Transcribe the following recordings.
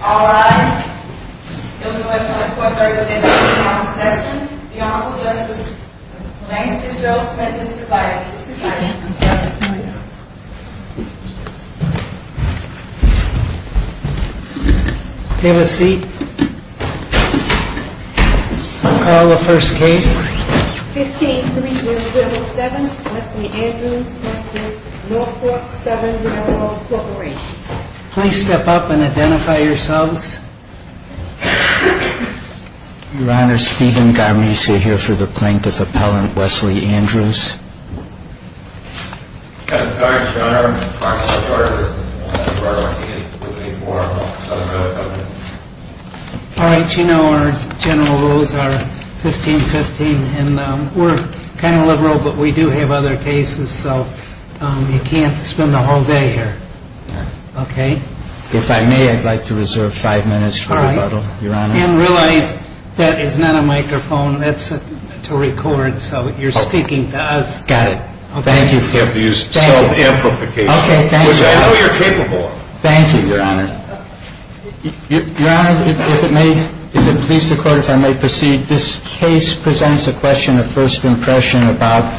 Alright, it will be my pleasure to begin the session. The Honorable Justice Lance Fitzgerald Smith is presiding. Have a seat. I'll call the first case. 15-307 Leslie Andrews v. Norfolk & Southern R.R. Corporation. Please step up and identify yourselves. Your Honor, Stephen Garmese here for the Plaintiff Appellant Leslie Andrews. Your Honor, I'm a prosecutor with the Norfolk & Southern R.R. Corporation. Alright, you know our general rules are 15-15 and we're kind of liberal but we do have other cases so you can't spend the whole day here. If I may, I'd like to reserve five minutes for rebuttal, Your Honor. And realize that is not a microphone, that's to record, so you're speaking to us. Got it. Thank you. Self-amplification, which I know you're capable of. Thank you, Your Honor. Your Honor, if it may, if it pleases the Court, if I may proceed. This case presents a question of first impression about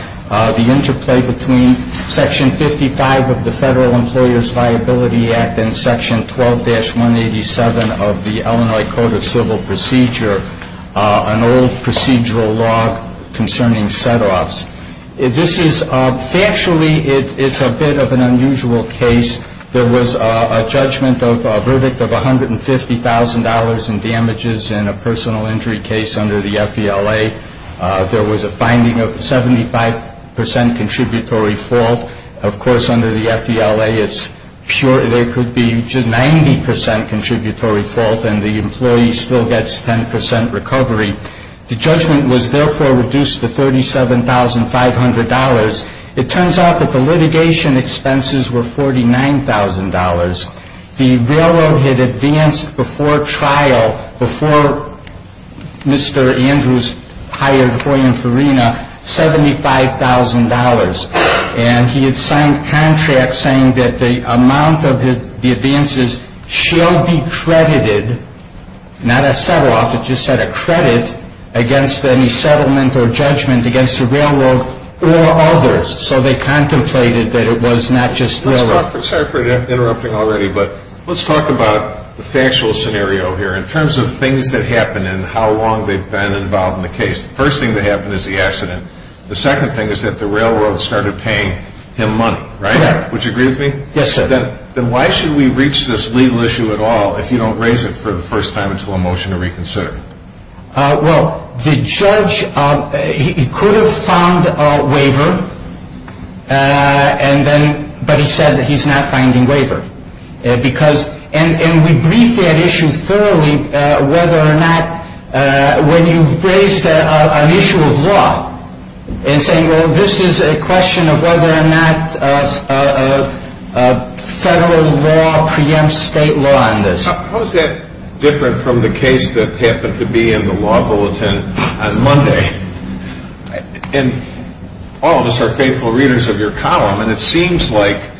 the interplay between Section 55 of the Federal Employers Viability Act and Section 12-187 of the Illinois Code of Civil Procedure, an old procedural law concerning set-offs. This is, factually, it's a bit of an unusual case. There was a judgment of a verdict of $150,000 in damages in a personal injury case under the FVLA. There was a finding of 75% contributory fault. Of course, under the FVLA, it's pure, there could be 90% contributory fault and the employee still gets 10% recovery. The judgment was, therefore, reduced to $37,500. It turns out that the litigation expenses were $49,000. The railroad had advanced before trial, before Mr. Andrews hired Roy and Farina, $75,000. And he had signed contracts saying that the amount of the advances shall be credited, not a set-off, it just said a credit against any settlement or judgment against the railroad or others. So they contemplated that it was not just railroad. I'm sorry for interrupting already, but let's talk about the factual scenario here in terms of things that happen and how long they've been involved in the case. The first thing that happened is the accident. The second thing is that the railroad started paying him money, right? Correct. Would you agree with me? Yes, sir. Then why should we reach this legal issue at all if you don't raise it for the first time until a motion to reconsider? Well, the judge, he could have found a waiver, but he said that he's not finding waiver. And we briefed that issue thoroughly whether or not when you've raised an issue of law and say, well, this is a question of whether or not federal law preempts state law on this. How is that different from the case that happened to be in the law bulletin on Monday? And all of us are faithful readers of your column, and it seems like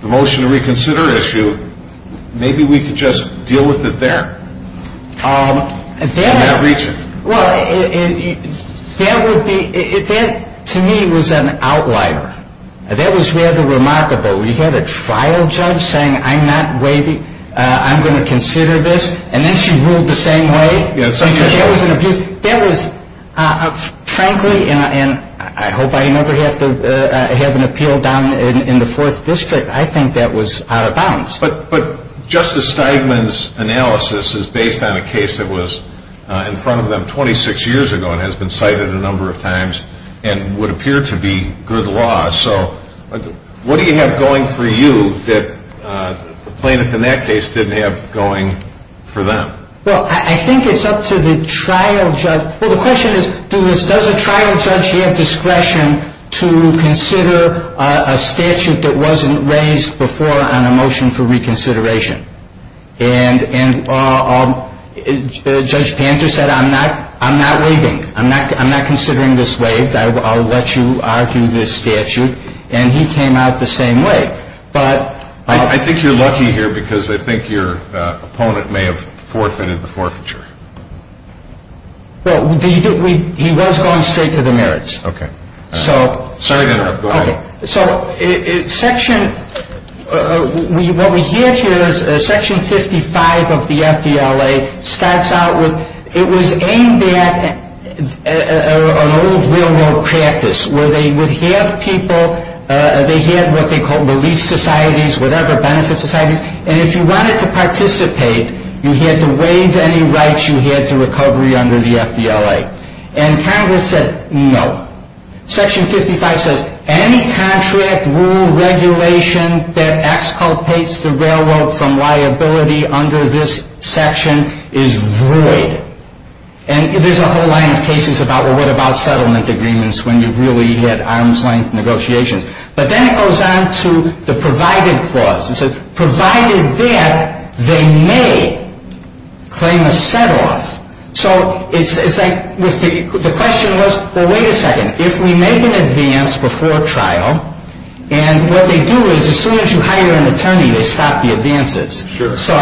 the motion to reconsider issue, maybe we could just deal with it there in that region. Well, that to me was an outlier. That was rather remarkable. We had a trial judge saying I'm not waiving, I'm going to consider this, and then she ruled the same way. I said that was an abuse. That was frankly, and I hope I never have to have an appeal down in the 4th District, I think that was out of bounds. But Justice Steigman's analysis is based on a case that was in front of them 26 years ago and has been cited a number of times and would appear to be good law. So what do you have going for you that the plaintiff in that case didn't have going for them? Well, I think it's up to the trial judge. Well, the question is does a trial judge have discretion to consider a statute that wasn't raised before on a motion for reconsideration? And Judge Panter said I'm not waiving. I'm not considering this waived. I'll let you argue this statute, and he came out the same way. I think you're lucky here because I think your opponent may have forfeited the forfeiture. Well, he was going straight to the merits. Okay. Sorry to interrupt. Go ahead. So what we have here is Section 55 of the FDLA starts out with it was aimed at an old real-world practice where they would have people, they had what they called relief societies, whatever, benefit societies, and if you wanted to participate, you had to waive any rights you had to recovery under the FDLA. And Congress said no. Section 55 says any contract, rule, regulation that exculpates the railroad from liability under this section is void. And there's a whole line of cases about, well, what about settlement agreements when you really had arm's-length negotiations? But then it goes on to the provided clause. It says provided that they may claim a set-off. So it's like the question was, well, wait a second. If we make an advance before trial, and what they do is as soon as you hire an attorney, they stop the advances. Sure. So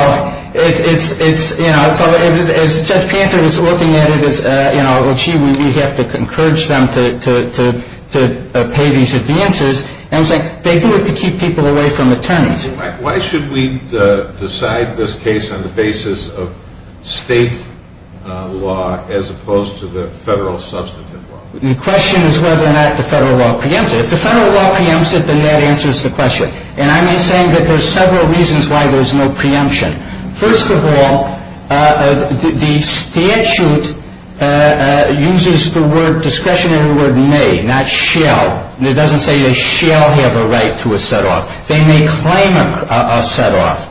it's, you know, as Judge Panther was looking at it as, you know, well, gee, we have to encourage them to pay these advances. And it's like they do it to keep people away from attorneys. Why should we decide this case on the basis of state law as opposed to the federal substantive law? The question is whether or not the federal law preempts it. If the federal law preempts it, then that answers the question. And I'm saying that there's several reasons why there's no preemption. First of all, the statute uses the word, discretionary word, may, not shall. It doesn't say they shall have a right to a set-off. They may claim a set-off.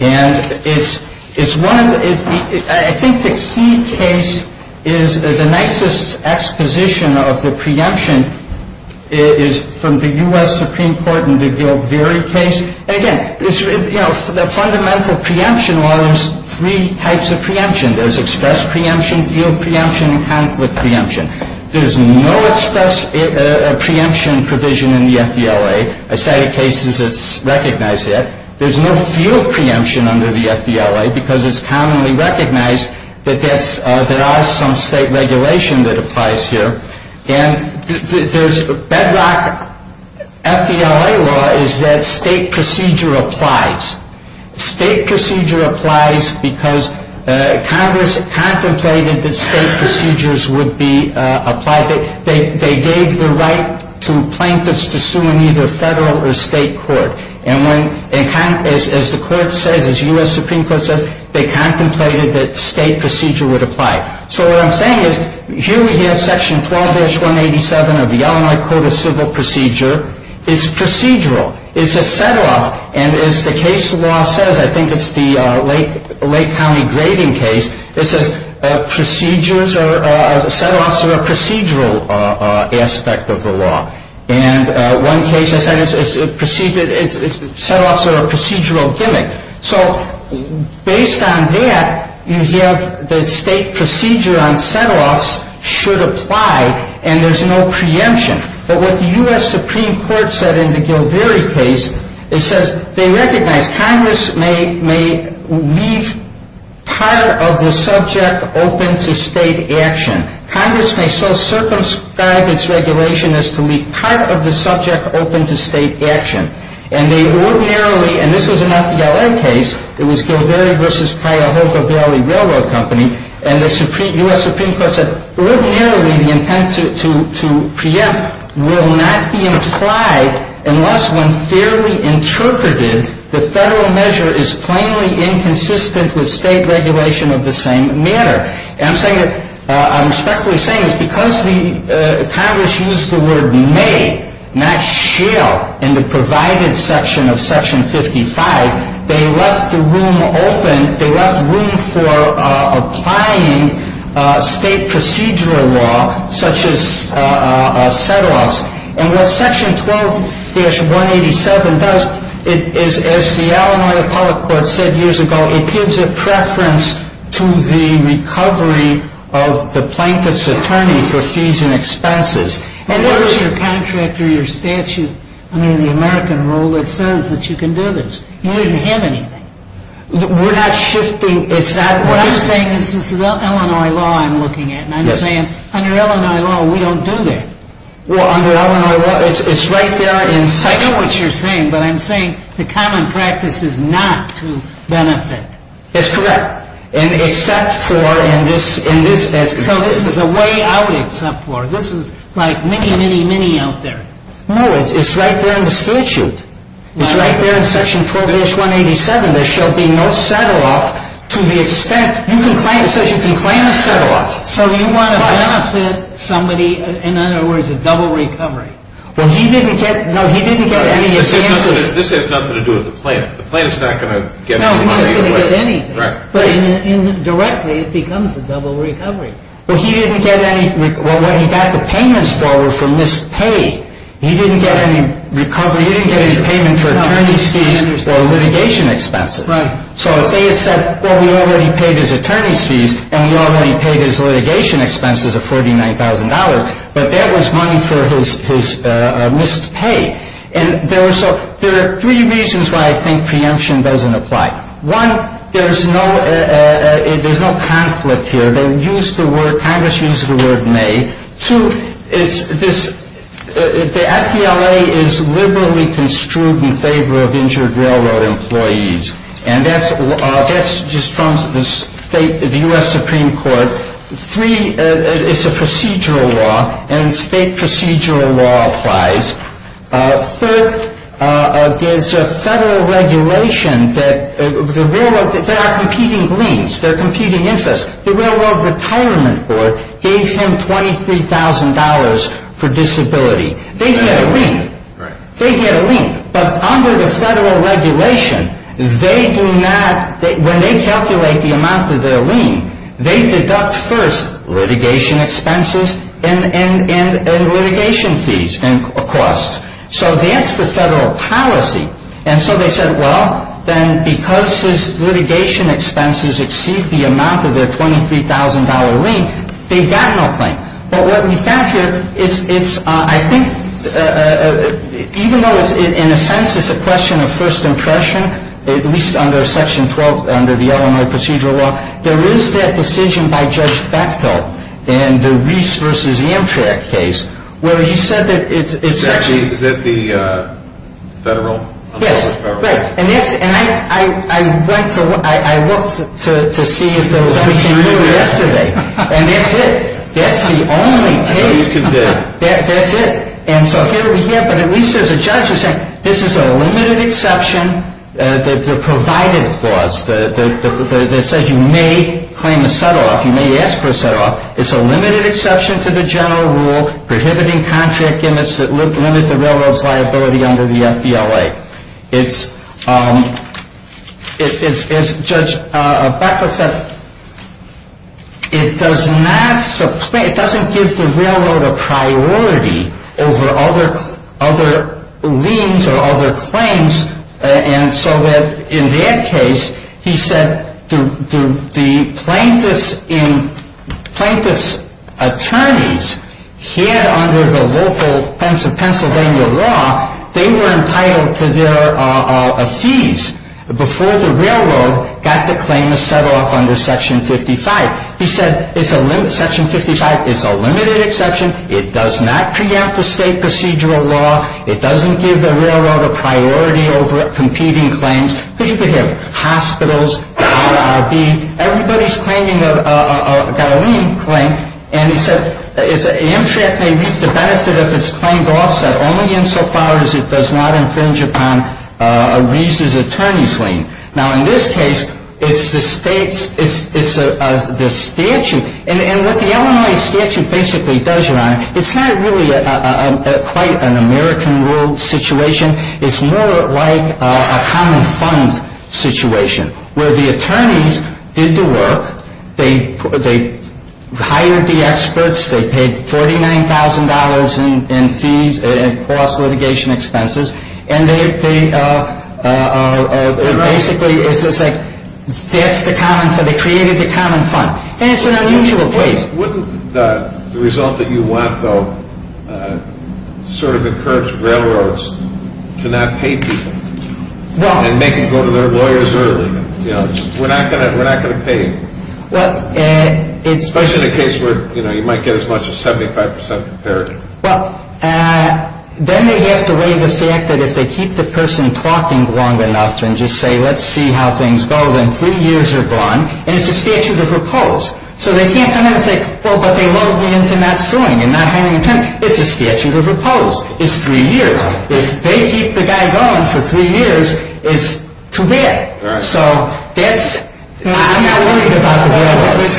And it's one of the ‑‑ I think the key case is the nicest exposition of the preemption is from the U.S. Supreme Court in the Gilberry case. Again, it's, you know, the fundamental preemption law, there's three types of preemption. There's express preemption, field preemption, and conflict preemption. There's no express preemption provision in the FDLA. A set of cases, it's recognized that. There's no field preemption under the FDLA because it's commonly recognized that there are some state regulation that applies here. And there's bedrock FDLA law is that state procedure applies. State procedure applies because Congress contemplated that state procedures would be applied. They gave the right to plaintiffs to sue in either federal or state court. And as the court says, as U.S. Supreme Court says, they contemplated that state procedure would apply. So what I'm saying is here we have section 12-187 of the Illinois Code of Civil Procedure. It's procedural. It's a set-off. And as the case law says, I think it's the Lake County grading case, it says set-offs are a procedural aspect of the law. And one case has said it's set-offs are a procedural gimmick. So based on that, you have the state procedure on set-offs should apply, and there's no preemption. But what the U.S. Supreme Court said in the Gilberry case, it says they recognize Congress may leave part of the subject open to state action. Congress may so circumscribe its regulation as to leave part of the subject open to state action. And they ordinarily, and this was an FDLA case, it was Gilberry v. Cuyahoga Valley Railroad Company, and the U.S. Supreme Court said ordinarily the intent to preempt will not be implied unless when fairly interpreted, the federal measure is plainly inconsistent with state regulation of the same manner. And I'm respectfully saying it's because Congress used the word may, not shall, in the provided section of Section 55, they left the room open, they left room for applying state procedural law such as set-offs. And what Section 12-187 does is, as the Illinois Appellate Court said years ago, it gives a preference to the recovery of the plaintiff's attorney for fees and expenses. And what is your contract or your statute under the American rule that says that you can do this? You don't even have anything. We're not shifting. What I'm saying is this is Illinois law I'm looking at, and I'm saying under Illinois law, we don't do that. Well, under Illinois law, it's right there in section. I know what you're saying, but I'm saying the common practice is not to benefit. That's correct. And except for in this aspect. So this is a way out except for. This is like mini, mini, mini out there. No, it's right there in the statute. It's right there in Section 12-187. There shall be no set-off to the extent you can claim, it says you can claim a set-off. So you want to benefit somebody, in other words, a double recovery. Well, he didn't get, no, he didn't get any expenses. This has nothing to do with the plaintiff. The plaintiff's not going to get any money. No, he's not going to get anything. But indirectly, it becomes a double recovery. But he didn't get any, well, when he got the payments forward for missed pay, he didn't get any recovery. He didn't get any payment for attorney's fees or litigation expenses. Right. So if they had said, well, we already paid his attorney's fees and we already paid his litigation expenses of $49,000, but that was money for his missed pay. And there are three reasons why I think preemption doesn't apply. One, there's no conflict here. They use the word, Congress uses the word may. Two, it's this, the FBLA is liberally construed in favor of injured railroad employees. And that's just from the U.S. Supreme Court. Three, it's a procedural law, and state procedural law applies. Third, there's a federal regulation that the railroad, they are competing liens. They're competing interests. The Railroad Retirement Board gave him $23,000 for disability. Right. They get a lien. But under the federal regulation, they do not, when they calculate the amount of their lien, they deduct first litigation expenses and litigation fees and costs. So that's the federal policy. And so they said, well, then because his litigation expenses exceed the amount of their $23,000 lien, they've got no claim. But what we found here, it's, I think, even though in a sense it's a question of first impression, at least under Section 12, under the Illinois Procedural Law, there is that decision by Judge Bechtol in the Reese versus Amtrak case where he said that it's Is that the federal? Yes. Right. And I went to, I looked to see if there was anything new yesterday. And that's it. That's the only case. That's it. And so here we have, but at least there's a judge who's saying this is a limited exception, the provided clause that says you may claim a set-off, you may ask for a set-off. It's a limited exception to the general rule prohibiting contract limits that limit the railroad's liability under the FBLA. It's, as Judge Bechtol said, it does not, it doesn't give the railroad a priority over other liens or other claims. And so that in that case, he said the plaintiff's attorneys here under the local Pennsylvania law, they were entitled to their fees before the railroad got to claim a set-off under Section 55. He said it's a, Section 55 is a limited exception. It does not preempt the state procedural law. It doesn't give the railroad a priority over competing claims. Because you could have hospitals, RRB, everybody's claiming a, got a lien claim. And he said an MTRAC may reap the benefit of its claimed offset only insofar as it does not infringe upon a reason's attorney's lien. Now, in this case, it's the state's, it's the statute, and what the Illinois statute basically does, Your Honor, it's not really quite an American rule situation. It's more like a common fund situation where the attorneys did the work. They hired the experts. They paid $49,000 in fees and cost litigation expenses. And they basically, it's just like that's the common, they created the common fund. And it's an unusual place. Wouldn't the result that you want, though, sort of encourage railroads to not pay people and make them go to their lawyers early? You know, we're not going to pay you. Especially in a case where, you know, you might get as much as 75% parity. Well, then they have to weigh the fact that if they keep the person talking long enough and just say, let's see how things go, then three years are gone, and it's a statute of repose. So they can't come in and say, well, but they lowered me into not suing and not hiring a tenant. It's a statute of repose. It's three years. If they keep the guy going for three years, it's too bad. So that's, I'm not worried about the railroads.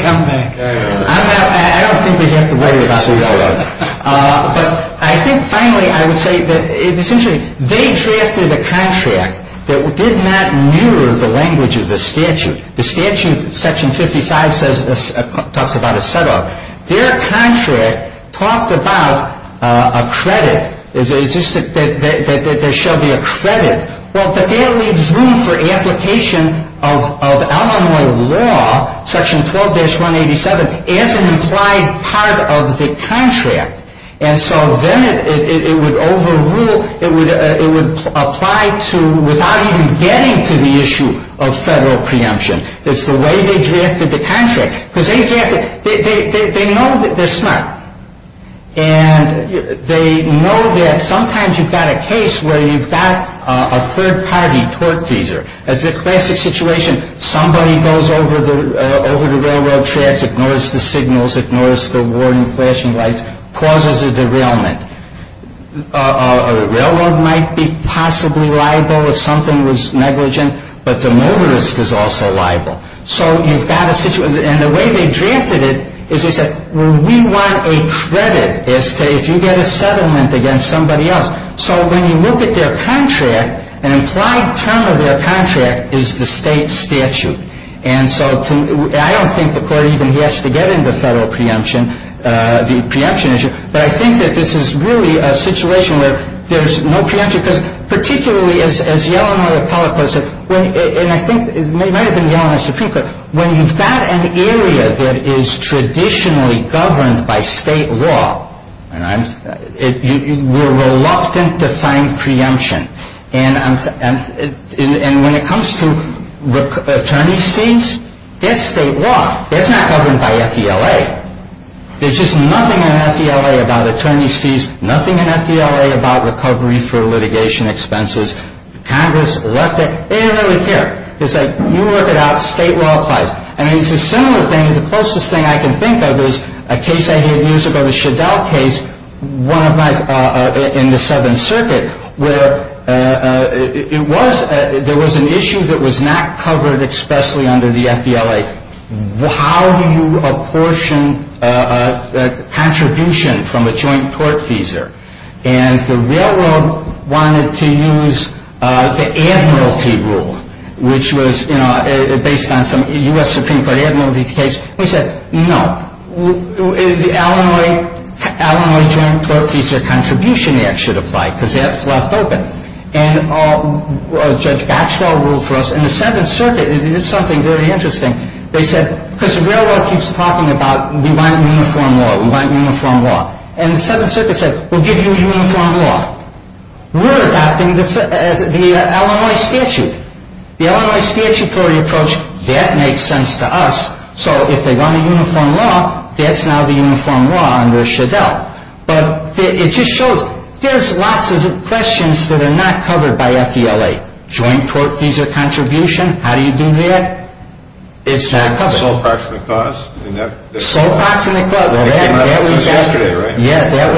I don't think we have to worry about the railroads. But I think finally I would say that essentially they drafted a contract that did not mirror the language of the statute. The statute, section 55, talks about a set up. Their contract talked about a credit, that there shall be a credit. Well, but that leaves room for application of Illinois law, section 12-187, as an implied part of the contract. And so then it would overrule, it would apply to, without even getting to the issue of federal preemption. It's the way they drafted the contract. Because they know that they're smart. And they know that sometimes you've got a case where you've got a third-party torque teaser. That's a classic situation. Somebody goes over the railroad tracks, ignores the signals, ignores the warning flashing lights, causes a derailment. A railroad might be possibly liable if something was negligent, but the motorist is also liable. So you've got a situation. And the way they drafted it is they said, well, we want a credit as to if you get a settlement against somebody else. So when you look at their contract, an implied term of their contract is the state statute. And so I don't think the Court even has to get into federal preemption, the preemption issue. But I think that this is really a situation where there's no preemption. Because particularly, as Yellowknot Appellate Court said, and I think it might have been Yellowknot Supreme Court, when you've got an area that is traditionally governed by state law, we're reluctant to find preemption. And when it comes to attorney's fees, that's state law. That's not governed by FDLA. There's just nothing in FDLA about attorney's fees, nothing in FDLA about recovery for litigation expenses. Congress left it. They don't really care. They say, you work it out. State law applies. I mean, it's a similar thing. The closest thing I can think of is a case I heard years ago, the Shadel case in the Seventh Circuit, where there was an issue that was not covered expressly under the FDLA. How do you apportion a contribution from a joint tort feeser? And the railroad wanted to use the Admiralty Rule, which was based on some U.S. Supreme Court Admiralty case. They said, no, the Illinois Joint Tort Feeser Contribution Act should apply because that's left open. And Judge Batchelor ruled for us. And the Seventh Circuit did something very interesting. They said, because the railroad keeps talking about we want uniform law, we want uniform law. And the Seventh Circuit said, we'll give you uniform law. We're adopting the Illinois statute. The Illinois statutory approach, that makes sense to us. So if they want a uniform law, that's now the uniform law under Shadel. But it just shows there's lots of questions that are not covered by FDLA. Joint tort feeser contribution, how do you do that? It's not covered. Sole proximate cause? Sole proximate cause. That came out just yesterday, right? Yeah, that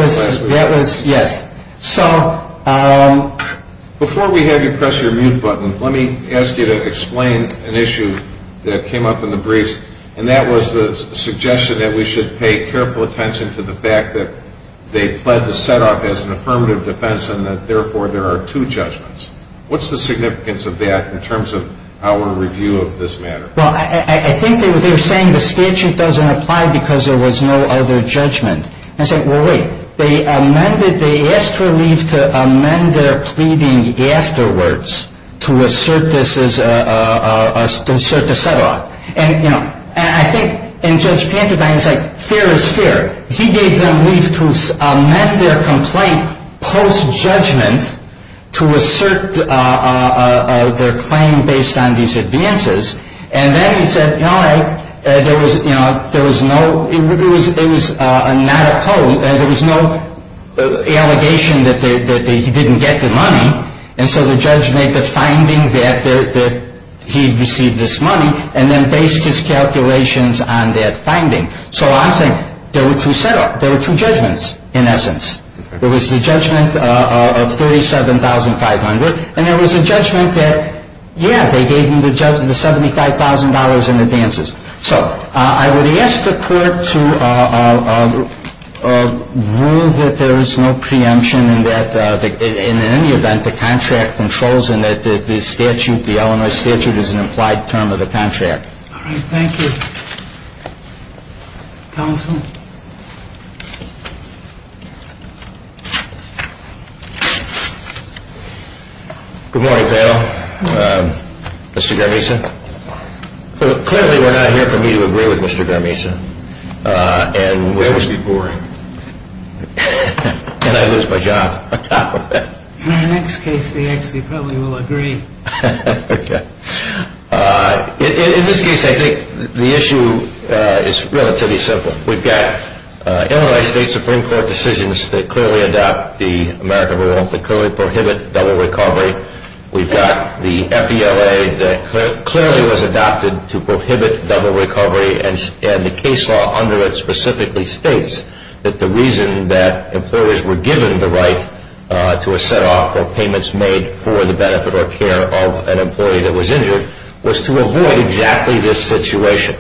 was, yes. Before we have you press your mute button, let me ask you to explain an issue that came up in the briefs. And that was the suggestion that we should pay careful attention to the fact that they pled the setoff as an affirmative defense and that therefore there are two judgments. What's the significance of that in terms of our review of this matter? Well, I think they were saying the statute doesn't apply because there was no other judgment. And I said, well, wait. They amended, they asked for leave to amend their pleading afterwards to assert the setoff. And, you know, I think, and Judge Pantadine said, fair is fair. He gave them leave to amend their complaint post-judgment to assert their claim based on these advances. And then he said, you know, there was no, it was not a poll, there was no allegation that he didn't get the money. And so the judge made the finding that he had received this money and then based his calculations on that finding. So I'm saying there were two judgments in essence. There was the judgment of $37,500 and there was a judgment that, yeah, they gave him the $75,000 in advances. So I would ask the court to rule that there is no preemption and that in any event the contract controls and that the statute, the Illinois statute is an implied term of the contract. All right. Thank you. Counsel. Good morning, pal. Mr. Garmisa. Clearly we're not here for me to agree with Mr. Garmisa. This would be boring. And I'd lose my job on top of that. In the next case, they actually probably will agree. In this case, I think the issue is relatively simple. We've got Illinois State Supreme Court decisions that clearly adopt the American rule that clearly prohibit double recovery. We've got the FELA that clearly was adopted to prohibit double recovery. And the case law under it specifically states that the reason that employers were given the right to a set off or payments made for the benefit or care of an employee that was injured was to avoid exactly this situation.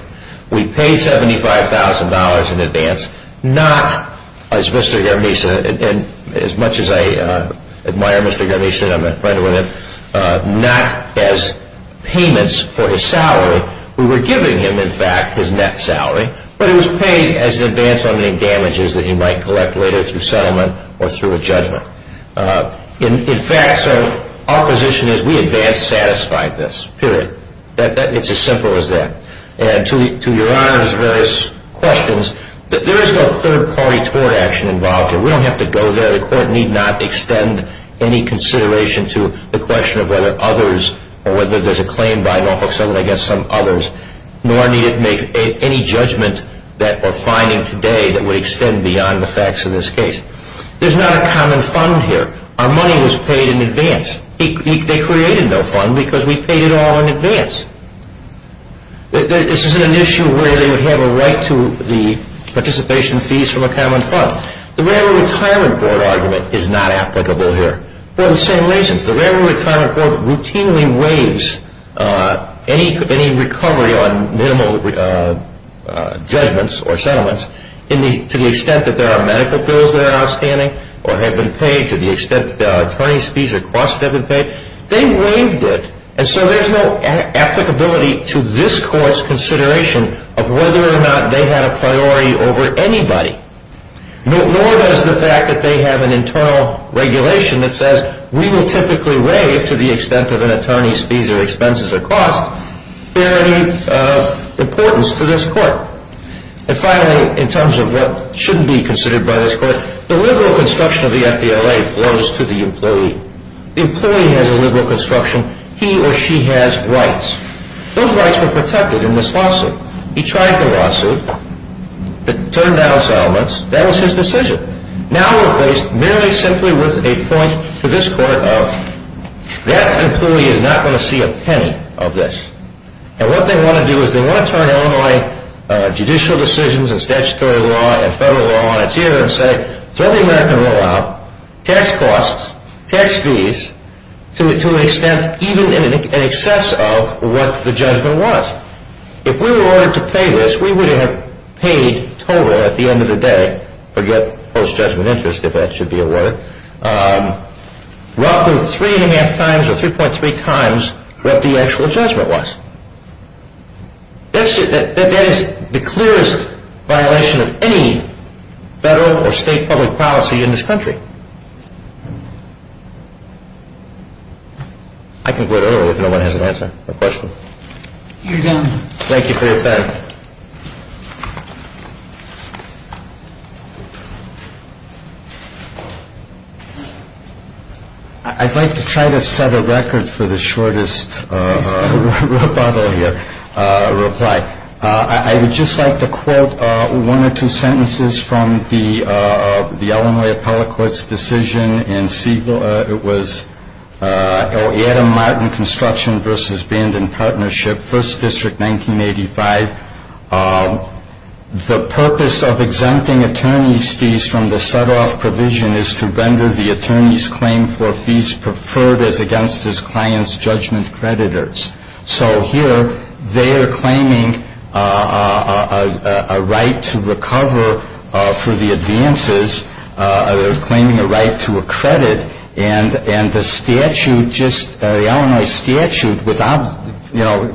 We paid $75,000 in advance not as Mr. Garmisa, and as much as I admire Mr. Garmisa and I'm a friend with him, not as payments for his salary. We were giving him, in fact, his net salary, but it was paid as an advance on any damages that he might collect later through settlement or through a judgment. In fact, so our position is we advance satisfied this, period. It's as simple as that. And to Your Honor's various questions, there is no third-party tort action involved here. We don't have to go there. The court need not extend any consideration to the question of whether others or whether there's a claim by Norfolk Southern against some others, nor need it make any judgment that we're finding today that would extend beyond the facts of this case. There's not a common fund here. Our money was paid in advance. They created no fund because we paid it all in advance. This is an issue where they would have a right to the participation fees from a common fund. The Railroad Retirement Board argument is not applicable here. For the same reasons, the Railroad Retirement Board routinely waives any recovery on minimal judgments or settlements to the extent that there are medical bills that are outstanding or have been paid to the extent that attorneys' fees or costs have been paid. They waived it, and so there's no applicability to this court's consideration of whether or not they had a priority over anybody, nor does the fact that they have an internal regulation that says we will typically waive to the extent of an attorney's fees or expenses or costs bear any importance to this court. And finally, in terms of what shouldn't be considered by this court, the liberal construction of the FBLA flows to the employee. The employee has a liberal construction. He or she has rights. Those rights were protected in this lawsuit. He tried the lawsuit to turn down settlements. That was his decision. Now we're faced merely simply with a point to this court of, that employee is not going to see a penny of this. And what they want to do is they want to turn Illinois judicial decisions and statutory law and federal law on its head and say, throw the American rollout, tax costs, tax fees, to an extent even in excess of what the judgment was. Now, if we were ordered to pay this, we would have paid total at the end of the day, forget post-judgment interest if that should be a word, roughly three and a half times or 3.3 times what the actual judgment was. That is the clearest violation of any federal or state public policy in this country. Thank you. I can go to Earl if no one has an answer or question. You're done. Thank you for your time. I'd like to try to set a record for the shortest rebuttal here, reply. I would just like to quote one or two sentences from the Illinois Appellate Court's decision in Siegel. It was Adam Martin Construction v. Band and Partnership, 1st District, 1985. The purpose of exempting attorney's fees from the set-off provision is to render the attorney's claim for fees preferred as against his client's judgment creditors. So here they are claiming a right to recover for the advances, claiming a right to a credit, and the Illinois statute,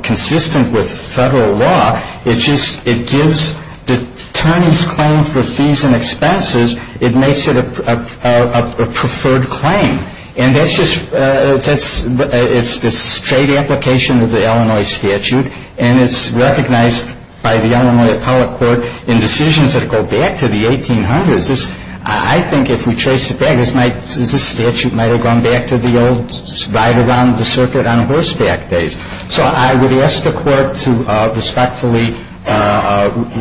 consistent with federal law, it gives the attorney's claim for fees and expenses, it makes it a preferred claim. And that's just a straight application of the Illinois statute, and it's recognized by the Illinois Appellate Court in decisions that go back to the 1800s. I think if we trace it back, this statute might have gone back to the old ride around the circuit on horseback days. So I would ask the Court to respectfully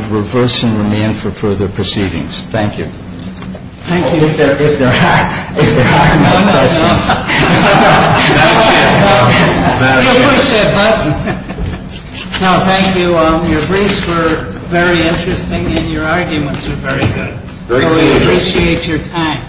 reverse and remand for further proceedings. Thank you. Thank you. Is there a hack? No, no, no. You push that button. No, thank you. Your briefs were very interesting and your arguments were very good. So we appreciate your time.